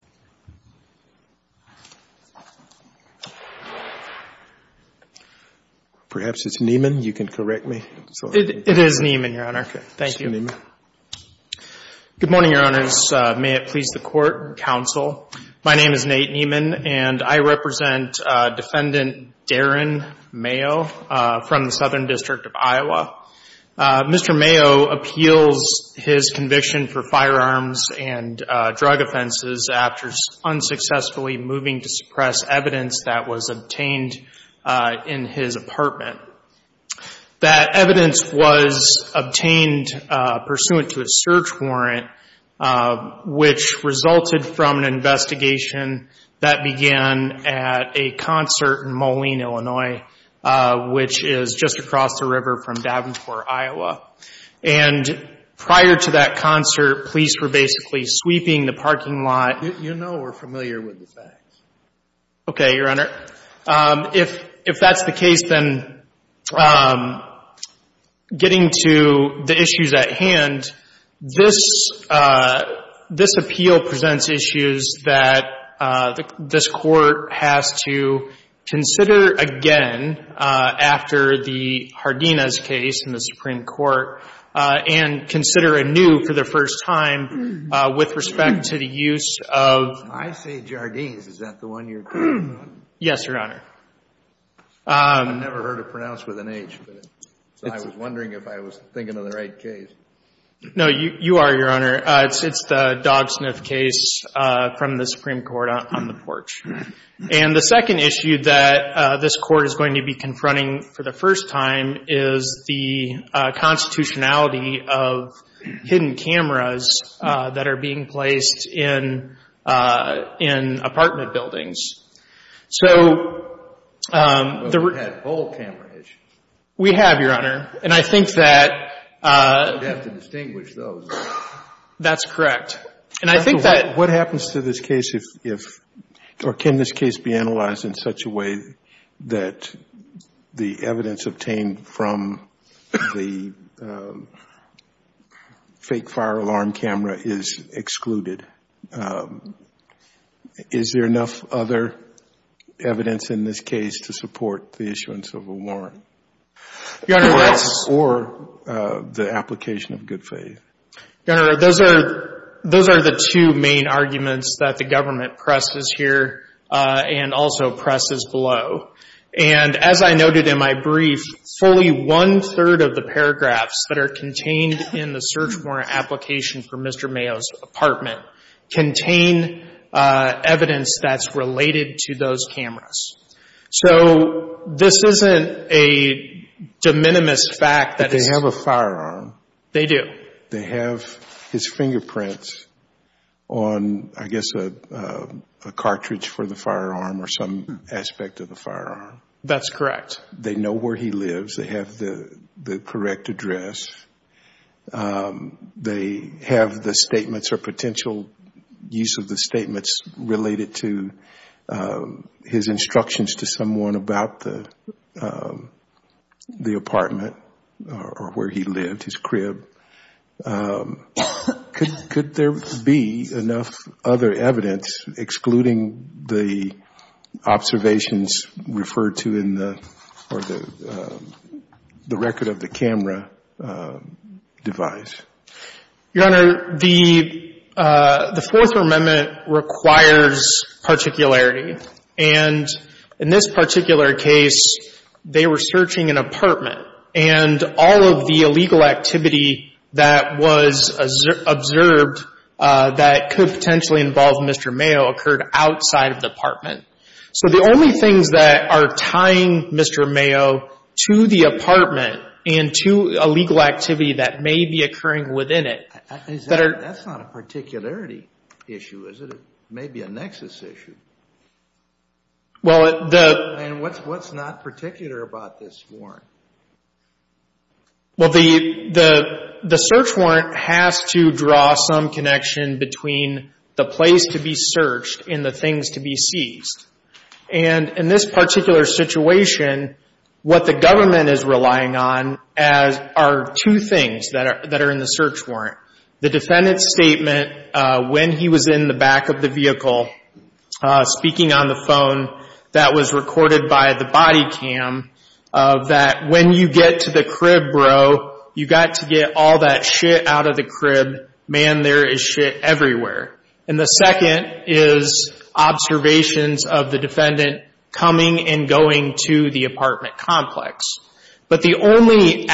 from the Southern District of Iowa. Mr. Mayo appeals his conviction for firearms and drug offenses after unsuccessfully moving to suppress evidence that was obtained in his apartment. That evidence was obtained pursuant to a search warrant, which resulted from an investigation that began at a concert in Moline, Illinois, which is just across the river from Davenport, Iowa. And prior to that concert, police were basically sweeping the parking lot. You know we're familiar with the facts. Okay, Your Honor. If that's the case, then getting to the issues at hand, this appeal presents issues that this Court has to consider again after the hard evidence is presented in Jardina's case in the Supreme Court, and consider anew for the first time with respect to the use of I say Jardine's. Is that the one you're talking about? Yes, Your Honor. I've never heard it pronounced with an H, so I was wondering if I was thinking of the right case. No, you are, Your Honor. It's the dog sniff case from the Supreme Court on the porch. And the second issue that this Court is going to be confronting for the first time is the constitutionality of hidden cameras that are being placed in apartment buildings. So the Well, we've had whole camera issues. We have, Your Honor. And I think that You'd have to distinguish those. That's correct. And I think that What happens to this case if, or can this case be analyzed in such a way that the evidence obtained from the fake fire alarm camera is excluded? Is there enough other evidence in this case to support the issuance of a warrant? Your Honor, that's Or the application of good faith? Your Honor, those are the two main arguments that the government presses here and also presses below. And as I noted in my brief, fully one-third of the paragraphs that are contained in the search warrant application for Mr. Mayo's apartment contain evidence that's related to those cameras. So this isn't a de minimis fact that They have a firearm. They do. They have his fingerprints on, I guess, a cartridge for the firearm or some aspect of the firearm. That's correct. They know where he lives. They have the correct address. They have the statements or potential use of the statements related to his instructions to someone about the apartment or where he lived, his crib. Could there be enough other evidence excluding the observations referred to in the record of the camera device? Your Honor, the Fourth Amendment requires particularity. And in this particular case, they were searching an apartment. And all of the illegal activity that was observed that could potentially involve Mr. Mayo occurred outside of the apartment. So the only things that are tying Mr. Mayo to the apartment and to illegal activity that may be occurring within it. That's not a particularity issue, is it? It may be a nexus issue. And what's not particular about this warrant? Well, the search warrant has to draw some connection between the place to be searched and the things to be seized. And in this particular situation, what the government is relying on are two things that are in the search warrant. The defendant's statement when he was in the back of the vehicle, speaking on the phone that was recorded by the body cam, that when you get to the crib, bro, you've got to get all that shit out of the crib. Man, there is shit everywhere. And the second is observations of the defendant coming and going to the apartment complex. But the only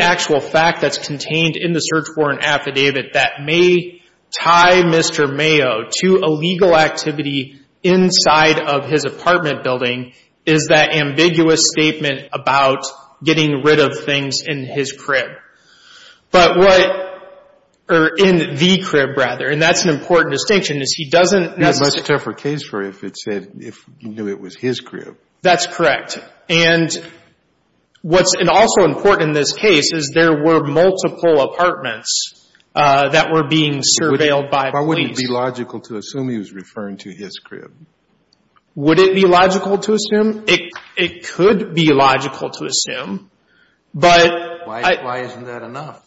actual fact that's contained in the search warrant affidavit that may tie Mr. Mayo to illegal activity inside of his apartment building is that ambiguous statement about getting rid of things in his crib. But what, or in the crib, rather, and that's an important distinction, is he doesn't That's a much tougher case for if it said, if he knew it was his crib. That's correct. And what's also important in this case is there were multiple apartments that were being surveilled by police. Why wouldn't it be logical to assume he was referring to his crib? Would it be logical to assume? It could be logical to assume. Why isn't that enough?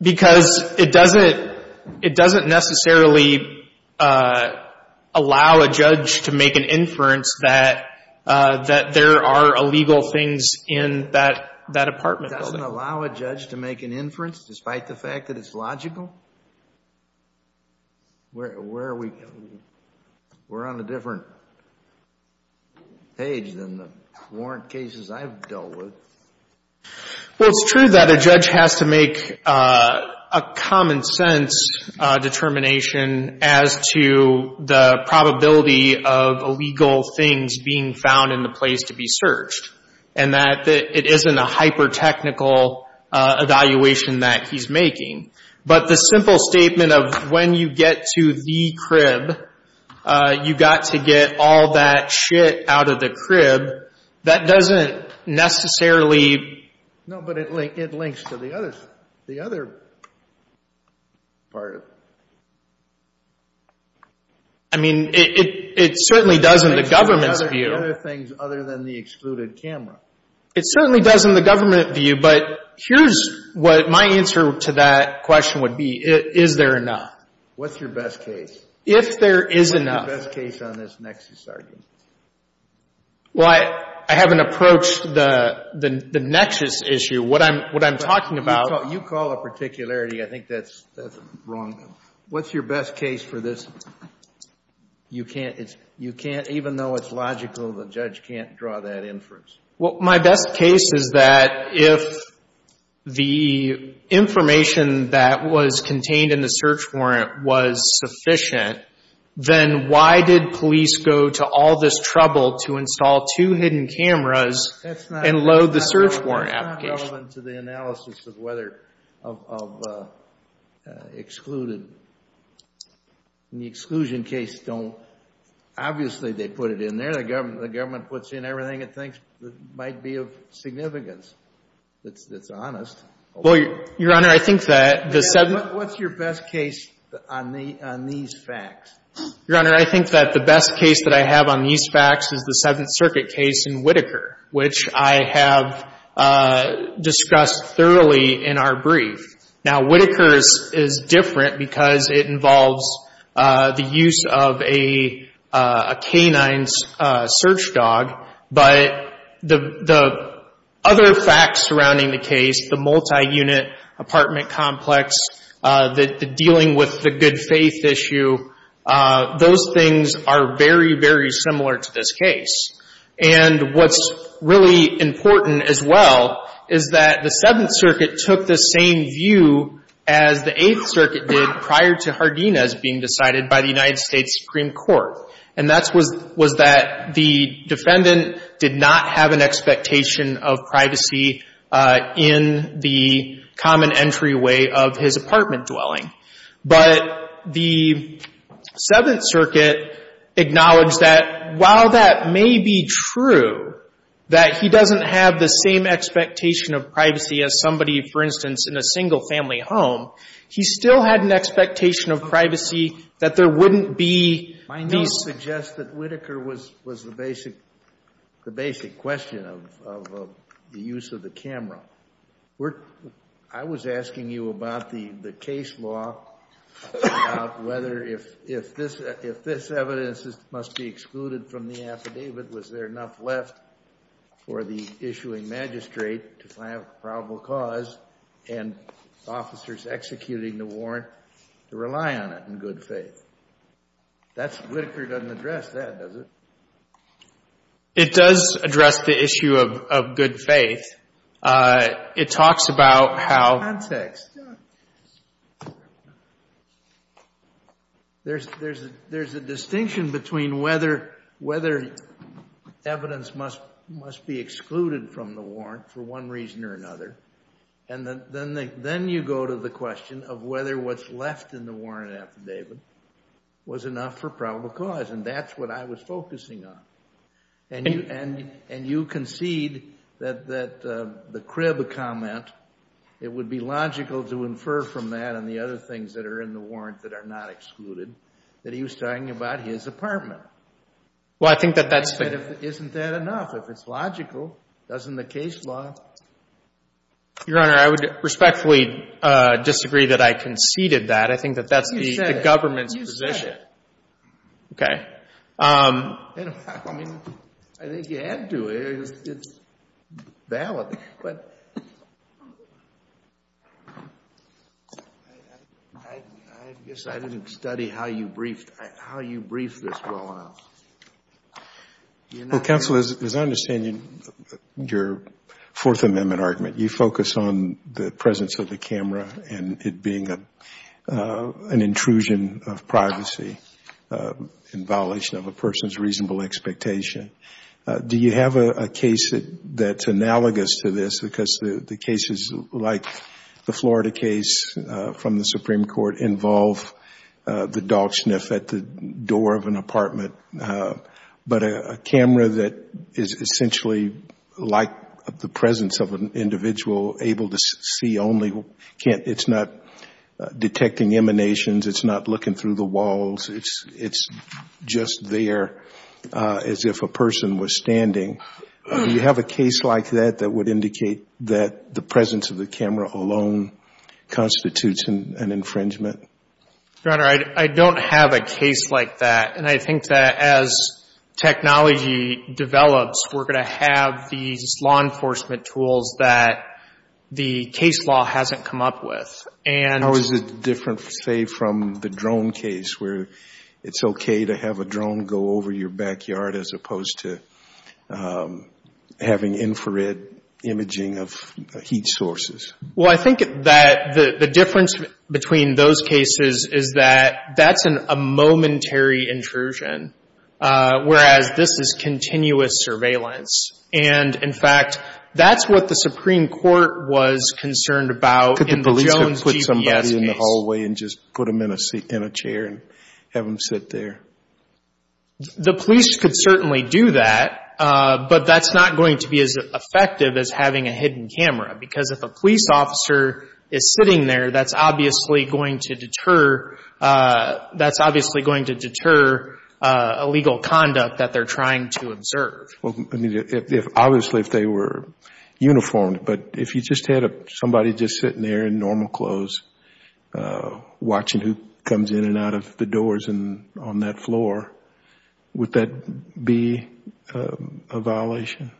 Because it doesn't necessarily allow a judge to make an inference that there are illegal things in that apartment. It doesn't allow a judge to make an inference despite the fact that it's logical? Where are we? We're on a different page than the warrant cases I've dealt with. Well, it's true that a judge has to make a common sense determination as to the probability of illegal things being found in the place to be searched and that it isn't a hyper-technical evaluation that he's making. But the simple statement of when you get to the crib, you've got to get all that shit out of the crib, that doesn't necessarily No, but it links to the other part. I mean, it certainly does in the government's view. It links to other things other than the excluded camera. It certainly does in the government view. But here's what my answer to that question would be. Is there enough? What's your best case? If there is enough. What's your best case on this nexus argument? Well, I haven't approached the nexus issue. What I'm talking about You call it particularity. I think that's wrong. What's your best case for this? You can't, even though it's logical, the judge can't draw that inference. Well, my best case is that if the information that was contained in the search warrant was sufficient, then why did police go to all this trouble to install two hidden cameras and load the search warrant application? That's not relevant to the analysis of whether, of excluded. In the exclusion case, don't, obviously they put it in there. The government puts in everything it thinks might be of significance. It's honest. Well, Your Honor, I think that the What's your best case on these facts? Your Honor, I think that the best case that I have on these facts is the Seventh Circuit case in Whitaker, which I have discussed thoroughly in our brief. Now, Whitaker is different because it involves the use of a canine's search dog, but the other facts surrounding the case, the multi-unit apartment complex, the dealing with the good faith issue, those things are very, very similar to this case. And what's really important as well is that the Seventh Circuit took the same view as the Eighth Circuit did prior to Hardina's being decided by the United States Supreme Court, and that was that the defendant did not have an expectation of privacy in the common entryway of his apartment dwelling. But the Seventh Circuit acknowledged that while that may be true, that he doesn't have the same expectation of privacy as somebody, for instance, in a single-family home, he still had an expectation of privacy that there wouldn't be I don't suggest that Whitaker was the basic question of the use of the camera. I was asking you about the case law, about whether if this evidence must be excluded from the affidavit, was there enough left for the issuing magistrate to find a probable cause and officers executing the warrant to rely on it in good faith? Whitaker doesn't address that, does it? It does address the issue of good faith. It talks about how There's a distinction between whether evidence must be excluded from the warrant for one reason or another, and then you go to the question of whether what's left in the warrant affidavit was enough for probable cause, and that's what I was focusing on. And you concede that the Cribb comment, it would be logical to infer from that and the other things that are in the warrant that are not excluded, that he was talking about his apartment. Well, I think that that's Isn't that enough? If it's logical, doesn't the case law Your Honor, I would respectfully disagree that I conceded that. I think that that's the government's position. Okay. I mean, I think you had to. It's valid, but I guess I didn't study how you briefed this well enough. Well, counsel, as I understand your Fourth Amendment argument, you focus on the presence of the camera and it being an intrusion of privacy in violation of a person's reasonable expectation. Do you have a case that's analogous to this, because the cases like the Florida case from the Supreme Court involve the dog sniff at the door of an apartment, but a camera that is essentially like the presence of an individual able to see only, it's not detecting emanations, it's not looking through the walls, it's just there as if a person was standing. Do you have a case like that that would indicate that the presence of the camera alone constitutes an infringement? Your Honor, I don't have a case like that, and I think that as technology develops, we're going to have these law enforcement tools that the case law hasn't come up with. How is it different, say, from the drone case, where it's okay to have a drone go over your backyard as opposed to having infrared imaging of heat sources? Well, I think that the difference between those cases is that that's a momentary intrusion, whereas this is continuous surveillance. And, in fact, that's what the Supreme Court was concerned about in the Jones GPS case. Could the police have put somebody in the hallway and just put them in a chair and have them sit there? The police could certainly do that, but that's not going to be as effective as having a hidden camera, because if a police officer is sitting there, that's obviously going to deter illegal conduct that they're trying to observe. Obviously, if they were uniformed, but if you just had somebody just sitting there in normal clothes, watching who comes in and out of the doors and on that floor, would that be a violation?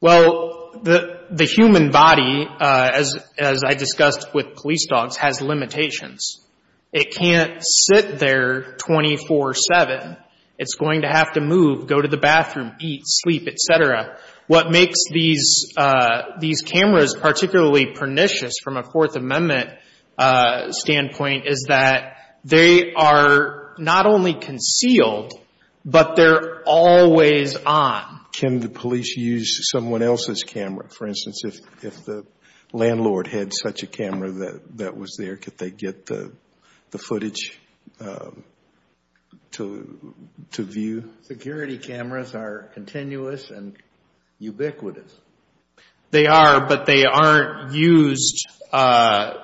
Well, the human body, as I discussed with police dogs, has limitations. It can't sit there 24-7. It's going to have to move, go to the bathroom, eat, sleep, et cetera. What makes these cameras particularly pernicious from a Fourth Amendment standpoint is that they are not only concealed, but they're always on. Can the police use someone else's camera? For instance, if the landlord had such a camera that was there, could they get the footage to view? Security cameras are continuous and ubiquitous. They are, but they aren't used as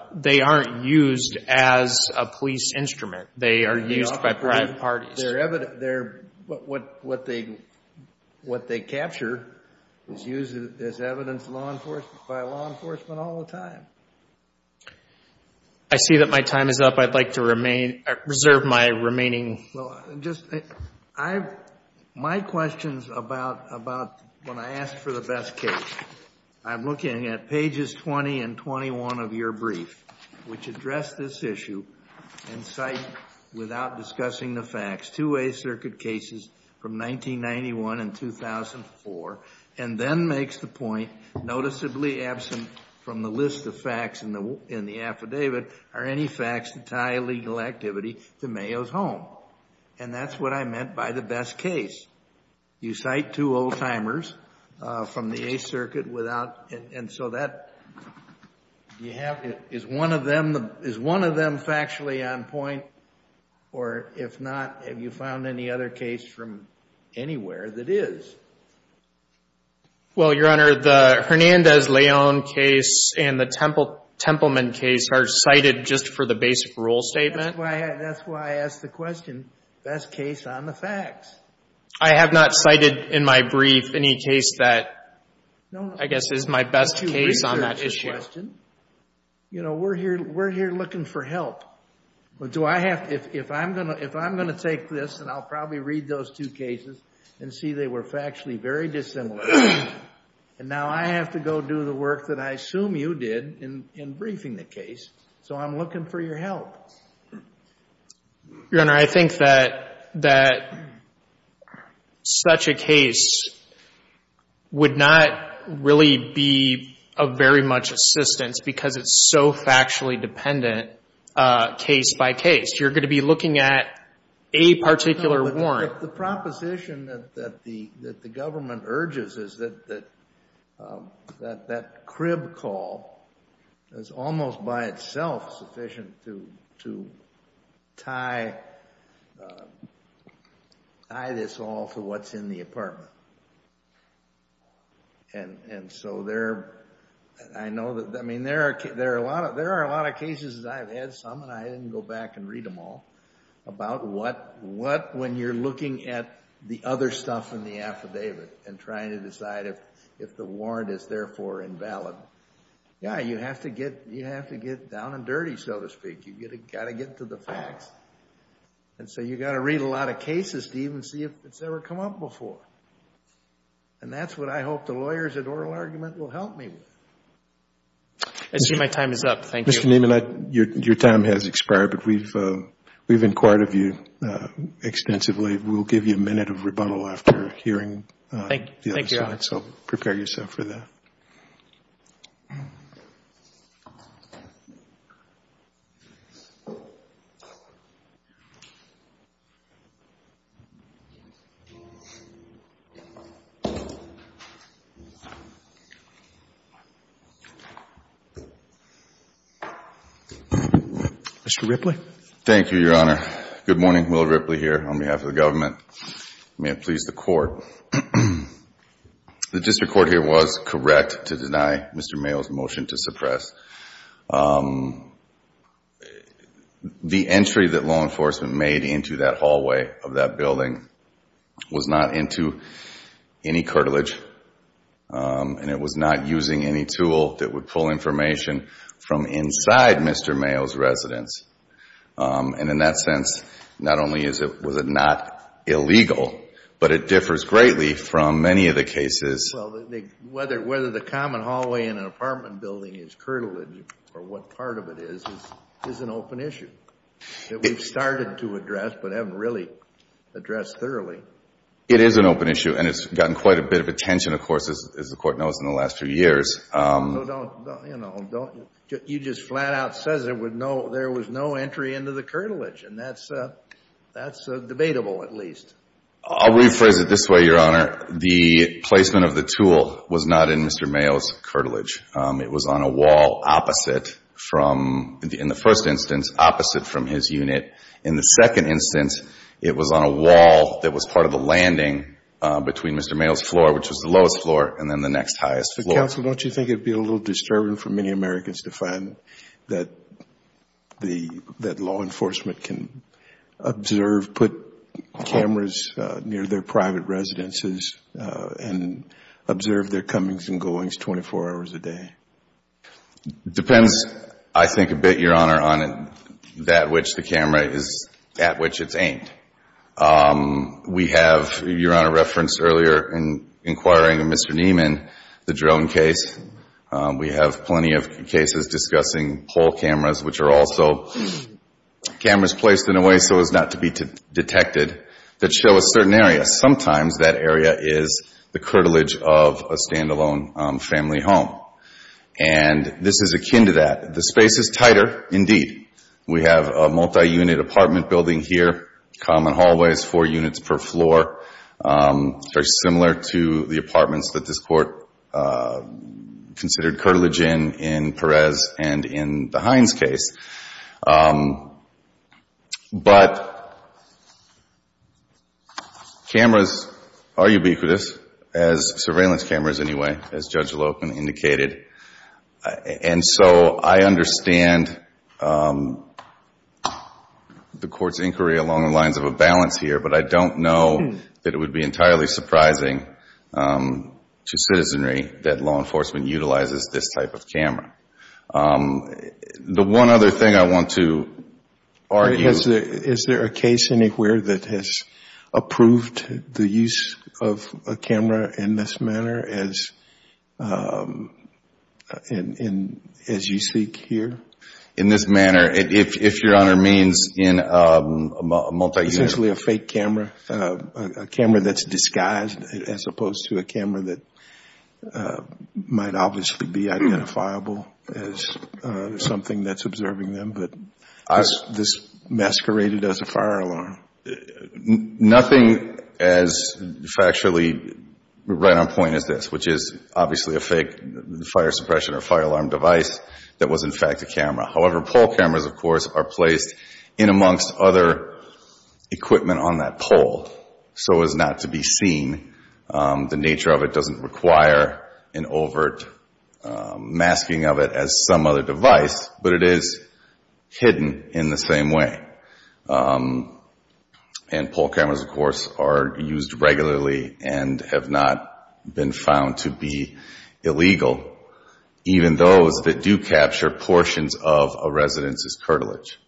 a police instrument. They are used by private parties. What they capture is used as evidence by law enforcement all the time. I see that my time is up. I'd like to reserve my remaining time. My question is about when I ask for the best case. I'm looking at pages 20 and 21 of your brief, which address this issue and cite, without discussing the facts, two Eighth Circuit cases from 1991 and 2004, and then makes the point, noticeably absent from the list of facts in the affidavit, are any facts that tie illegal activity to Mayo's home. And that's what I meant by the best case. You cite two old-timers from the Eighth Circuit. And so is one of them factually on point? Or if not, have you found any other case from anywhere that is? Well, Your Honor, the Hernandez-Leon case and the Templeman case are cited just for the basic rule statement. That's why I asked the question. Best case on the facts. I have not cited in my brief any case that I guess is my best case on that issue. You know, we're here looking for help. If I'm going to take this, and I'll probably read those two cases and see they were factually very dissimilar, and now I have to go do the work that I assume you did in briefing the case, so I'm looking for your help. Your Honor, I think that such a case would not really be of very much assistance because it's so factually dependent case by case. You're going to be looking at a particular warrant. The proposition that the government urges is that that crib call is almost by itself sufficient to tie this all to what's in the apartment. And so there are a lot of cases that I've had some, and I didn't go back and read them all, about what when you're looking at the other stuff in the affidavit and trying to decide if the warrant is therefore invalid. Yeah, you have to get down and dirty, so to speak. You've got to get to the facts. And so you've got to read a lot of cases to even see if it's ever come up before. And that's what I hope the lawyers at Oral Argument will help me with. I see my time is up. Thank you. Your time has expired, but we've inquired of you extensively. We'll give you a minute of rebuttal after hearing the other side. So prepare yourself for that. Mr. Ripley. Thank you, Your Honor. Good morning. Will Ripley here on behalf of the government. May it please the Court. The district court here was correct to deny Mr. Mayo's motion to suppress. The entry that law enforcement made into that hallway of that building was not into any curtilage, and it was not using any tool that would pull information from inside Mr. Mayo's residence. And in that sense, not only was it not illegal, but it differs greatly from many of the cases. Well, whether the common hallway in an apartment building is curtilage or what part of it is, is an open issue that we've started to address but haven't really addressed thoroughly. It is an open issue, and it's gotten quite a bit of attention, of course, as the Court knows, in the last few years. Well, don't, you know, don't. You just flat out said there was no entry into the curtilage, and that's debatable at least. I'll rephrase it this way, Your Honor. The placement of the tool was not in Mr. Mayo's curtilage. It was on a wall opposite from, in the first instance, opposite from his unit. In the second instance, it was on a wall that was part of the landing between Mr. Mayo's floor, which was the lowest floor, and then the next highest floor. Counsel, don't you think it would be a little disturbing for many Americans to find that the, that law enforcement can observe, put cameras near their private residences and observe their comings and goings 24 hours a day? It depends, I think, a bit, Your Honor, on that which the camera is, at which it's aimed. We have, Your Honor referenced earlier in inquiring Mr. Neiman, the drone case. We have plenty of cases discussing pole cameras, which are also cameras placed in a way so as not to be detected that show a certain area. And sometimes that area is the curtilage of a stand-alone family home. And this is akin to that. The space is tighter, indeed. We have a multi-unit apartment building here, common hallways, four units per floor, very similar to the apartments that this Court considered curtilage in, in Perez and in the Hines case. But cameras are ubiquitous, as surveillance cameras anyway, as Judge Loken indicated. And so I understand the Court's inquiry along the lines of a balance here, but I don't know that it would be entirely surprising to citizenry that law enforcement utilizes this type of camera. The one other thing I want to argue... Is there a case anywhere that has approved the use of a camera in this manner as you speak here? In this manner, if Your Honor means in a multi-unit... as something that's observing them, but this masqueraded as a fire alarm. Nothing as factually right on point as this, which is obviously a fake fire suppression or fire alarm device that was in fact a camera. However, pole cameras, of course, are placed in amongst other equipment on that pole so as not to be seen. The nature of it doesn't require an overt masking of it as some other device, but it is hidden in the same way. And pole cameras, of course, are used regularly and have not been found to be illegal, even those that do capture portions of a resident's curtilage.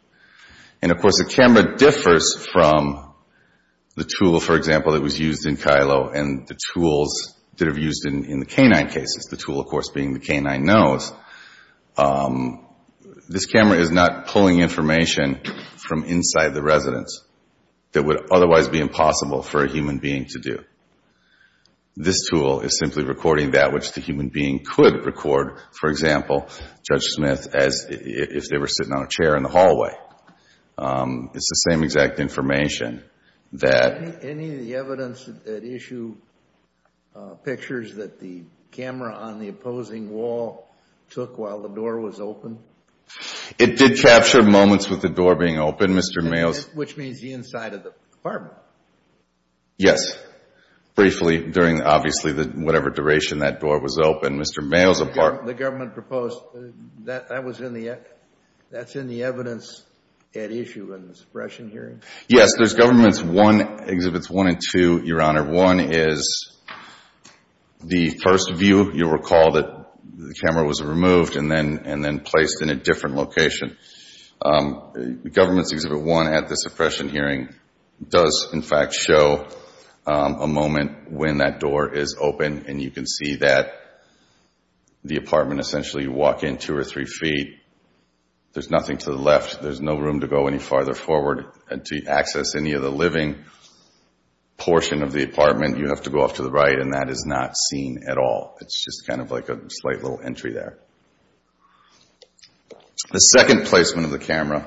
And, of course, a camera differs from the tool, for example, that was used in Kylo and the tools that are used in the canine cases. The tool, of course, being the canine nose. This camera is not pulling information from inside the residence that would otherwise be impossible for a human being to do. This tool is simply recording that which the human being could record. For example, Judge Smith, as if they were sitting on a chair in the hallway. It's the same exact information. Any of the evidence that issue pictures that the camera on the opposing wall took while the door was open? It did capture moments with the door being open, Mr. Mayo's. Which means the inside of the apartment. Yes. Briefly, during obviously whatever duration that door was open. Mr. Mayo's apartment. The government proposed, that's in the evidence at issue in the suppression hearing? Yes. There's Governments Exhibits 1 and 2, Your Honor. One is the first view. You'll recall that the camera was removed and then placed in a different location. Governments Exhibit 1 at the suppression hearing does, in fact, show a moment when that door is open and you can see that the apartment essentially you walk in two or three feet. There's nothing to the left. There's no room to go any farther forward to access any of the living portion of the apartment. You have to go off to the right and that is not seen at all. It's just kind of like a slight little entry there. The second placement of the camera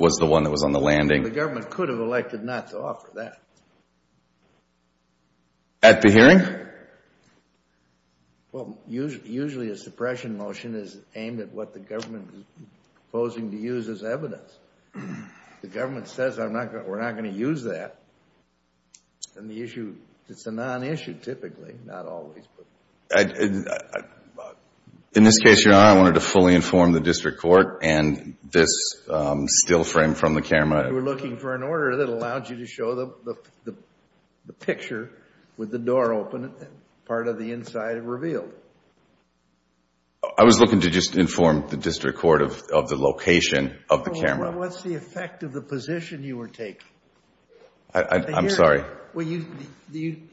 was the one that was on the landing. The government could have elected not to offer that. At the hearing? Well, usually a suppression motion is aimed at what the government is proposing to use as evidence. If the government says we're not going to use that, then the issue, it's a non-issue typically, not always. In this case, Your Honor, I wanted to fully inform the district court and this still frame from the camera. You were looking for an order that allowed you to show the picture with the door open and part of the inside revealed. I was looking to just inform the district court of the location of the camera. What's the effect of the position you were taking? I'm sorry?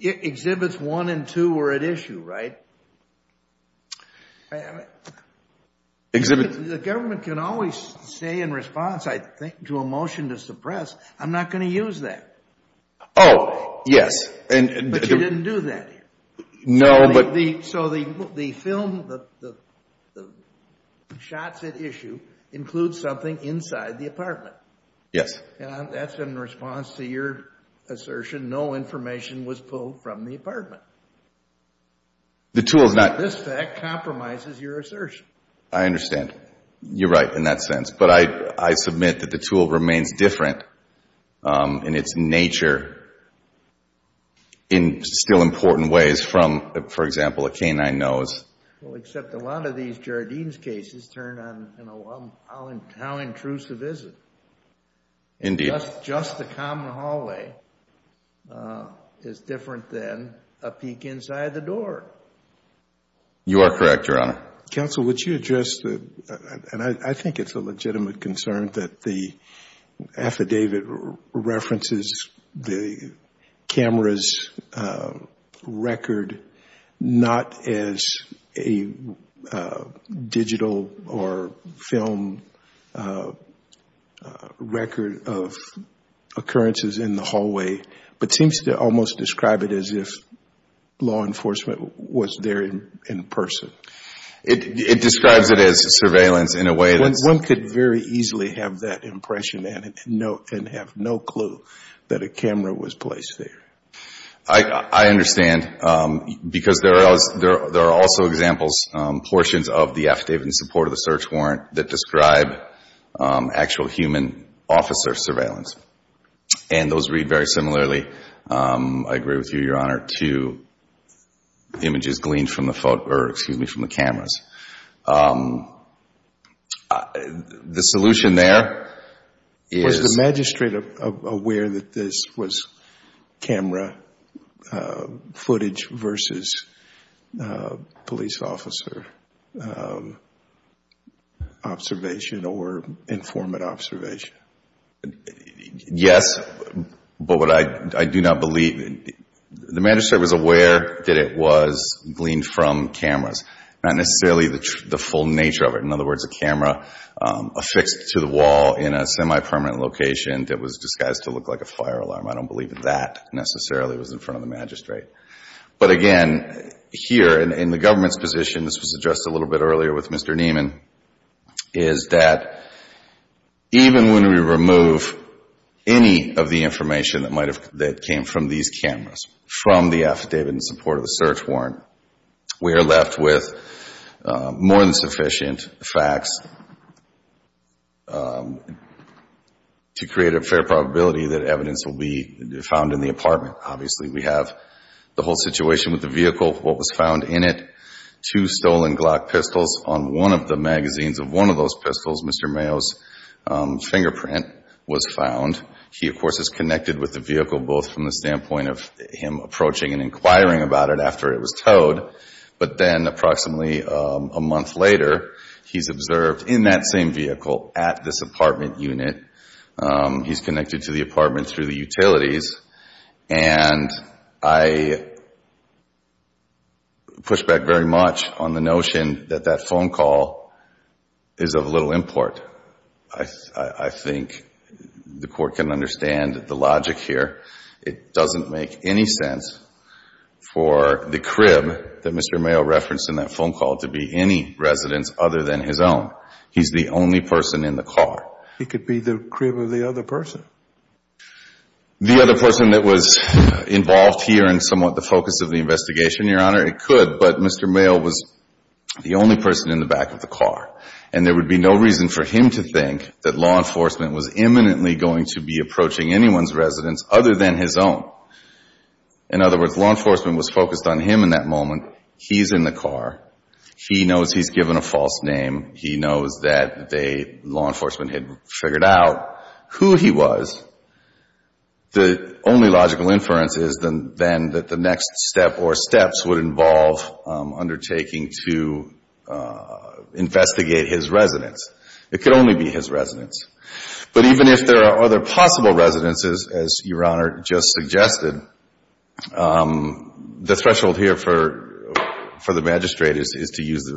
Exhibits 1 and 2 were at issue, right? The government can always say in response, I think, to a motion to suppress, I'm not going to use that. Oh, yes. But you didn't do that here. No, but... So the film, the shots at issue include something inside the apartment. Yes. That's in response to your assertion, no information was pulled from the apartment. The tool is not... This fact compromises your assertion. I understand. You're right in that sense. But I submit that the tool remains different in its nature in still important ways from, for example, a canine nose. Well, except a lot of these Jardines cases turn on how intrusive is it? Indeed. Just the common hallway is different than a peek inside the door. You are correct, Your Honor. Counsel, would you address the... And I think it's a legitimate concern that the affidavit references the camera's record, not as a digital or film record of occurrences in the hallway, but seems to almost describe it as if law enforcement was there in person. It describes it as surveillance in a way that's... One could very easily have that impression and have no clue that a camera was placed there. I understand because there are also examples, portions of the affidavit in support of the search warrant that describe actual human officer surveillance. And those read very similarly, I agree with you, Your Honor, to images gleaned from the cameras. The solution there is... Was the magistrate aware that this was camera footage versus police officer observation or informant observation? Yes, but what I do not believe... The magistrate was aware that it was gleaned from cameras, not necessarily the full nature of it. In other words, a camera affixed to the wall in a semi-permanent location that was disguised to look like a fire alarm. I don't believe that necessarily was in front of the magistrate. But again, here in the government's position, this was addressed a little bit earlier with Mr. Nieman, is that even when we remove any of the information that came from these cameras, from the affidavit in support of the search warrant, we are left with more than sufficient facts to create a fair probability that evidence will be found in the apartment. Obviously, we have the whole situation with the vehicle, what was found in it, two stolen Glock pistols. On one of the magazines of one of those pistols, Mr. Mayo's fingerprint was found. He, of course, is connected with the vehicle, both from the standpoint of him approaching and inquiring about it after it was towed. But then approximately a month later, he's observed in that same vehicle at this apartment unit. He's connected to the apartment through the utilities. And I push back very much on the notion that that phone call is of little import. I think the Court can understand the logic here. It doesn't make any sense for the crib that Mr. Mayo referenced in that phone call to be any residence other than his own. He's the only person in the car. He could be the crib of the other person. The other person that was involved here in somewhat the focus of the investigation, Your Honor, it could, but Mr. Mayo was the only person in the back of the car. And there would be no reason for him to think that law enforcement was imminently going to be approaching anyone's residence other than his own. In other words, law enforcement was focused on him in that moment. He's in the car. He knows he's given a false name. He knows that they, law enforcement, had figured out who he was. The only logical inference is then that the next step or steps would involve undertaking to investigate his residence. It could only be his residence. But even if there are other possible residences, as Your Honor just suggested, the threshold here for the magistrate is to use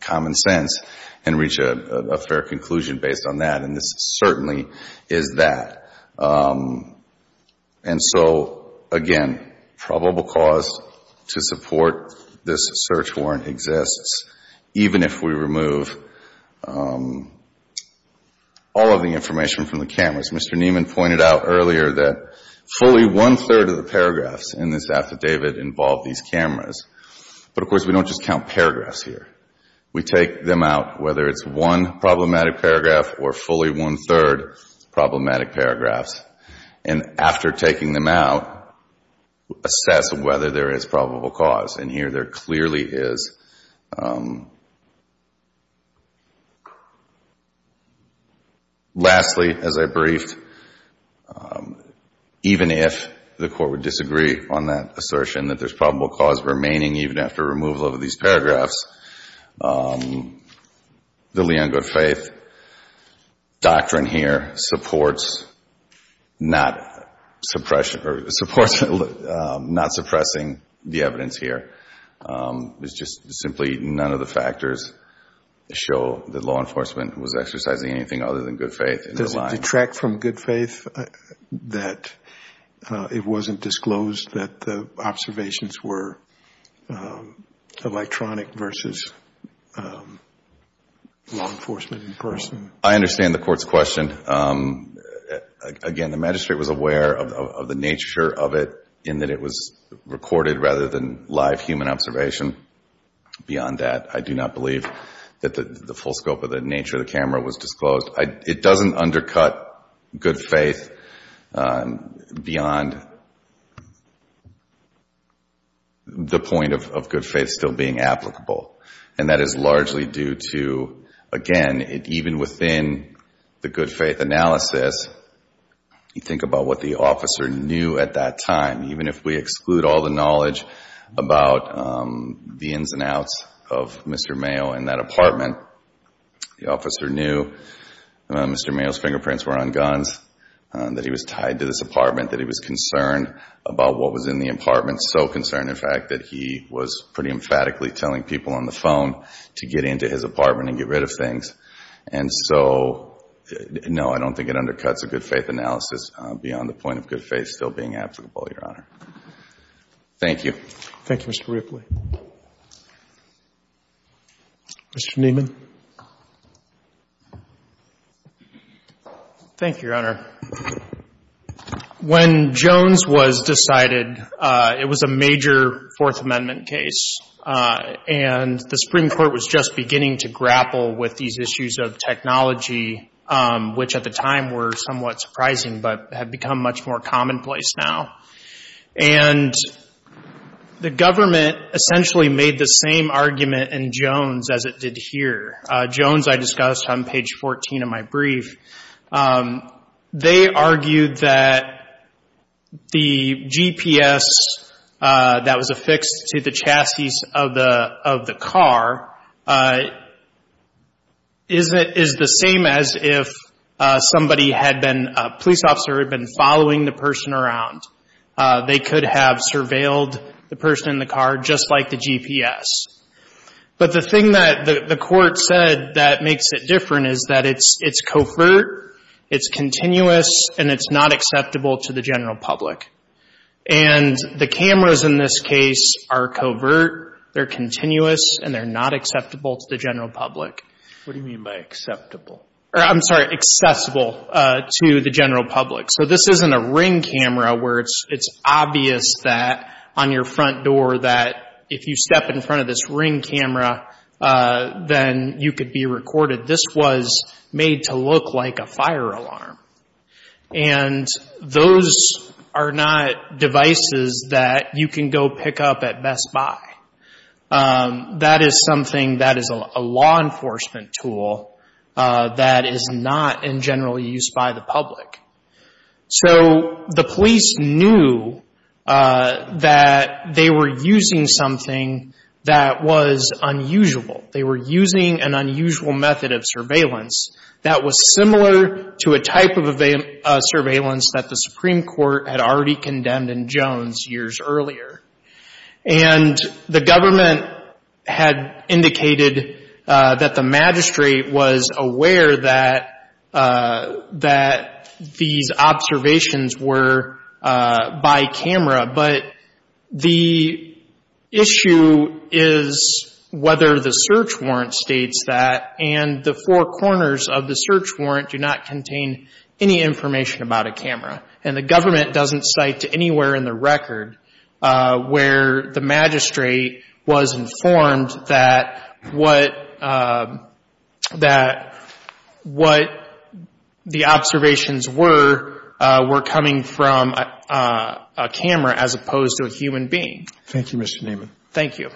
common sense and reach a fair conclusion based on that. And this certainly is that. And so, again, probable cause to support this search warrant exists, even if we remove all of the information from the cameras. As Mr. Nieman pointed out earlier, that fully one-third of the paragraphs in this affidavit involve these cameras. But, of course, we don't just count paragraphs here. We take them out, whether it's one problematic paragraph or fully one-third problematic paragraphs. And after taking them out, assess whether there is probable cause. And here there clearly is. Lastly, as I briefed, even if the court would disagree on that assertion that there's probable cause remaining even after removal of these paragraphs, the Leon Goodfaith doctrine here supports not suppressing the evidence here. It's just simply none of the factors show that law enforcement was exercising anything other than good faith in the line. Does it detract from good faith that it wasn't disclosed that the observations were electronic versus law enforcement in person? I understand the court's question. Again, the magistrate was aware of the nature of it in that it was recorded rather than live human observation. Beyond that, I do not believe that the full scope of the nature of the camera was disclosed. It doesn't undercut good faith beyond the point of good faith still being applicable. And that is largely due to, again, even within the good faith analysis, you think about what the officer knew at that time. Even if we exclude all the knowledge about the ins and outs of Mr. Mayo and that apartment, the officer knew Mr. Mayo's fingerprints were on guns, that he was tied to this apartment, that he was concerned about what was in the apartment. So concerned, in fact, that he was pretty emphatically telling people on the phone to get into his apartment and get rid of things. And so, no, I don't think it undercuts a good faith analysis beyond the point of good faith still being applicable, Your Honor. Thank you. Thank you, Mr. Ripley. Mr. Nieman. Thank you, Your Honor. When Jones was decided, it was a major Fourth Amendment case, and the Supreme Court was just beginning to grapple with these issues of technology, which at the time were somewhat surprising but have become much more commonplace now. And the government essentially made the same argument in Jones as it did here. Jones, I discussed on page 14 of my brief. They argued that the GPS that was affixed to the chassis of the car is the same as if somebody had been, a police officer had been following the person around. They could have surveilled the person in the car just like the GPS. But the thing that the court said that makes it different is that it's covert, it's continuous, and it's not acceptable to the general public. And the cameras in this case are covert, they're continuous, and they're not acceptable to the general public. What do you mean by acceptable? I'm sorry, accessible to the general public. So this isn't a ring camera where it's obvious that on your front door that if you step in front of this ring camera, then you could be recorded. This was made to look like a fire alarm. And those are not devices that you can go pick up at Best Buy. That is something that is a law enforcement tool that is not in general use by the public. So the police knew that they were using something that was unusual. They were using an unusual method of surveillance that was similar to a type of surveillance that the Supreme Court had already condemned in Jones years earlier. And the government had indicated that the magistrate was aware that these observations were by camera. But the issue is whether the search warrant states that, and the four corners of the search warrant do not contain any information about a camera. And the government doesn't cite anywhere in the record where the magistrate was informed that what the observations were, were coming from a camera as opposed to a human being. Thank you, Mr. Naaman. Thank you.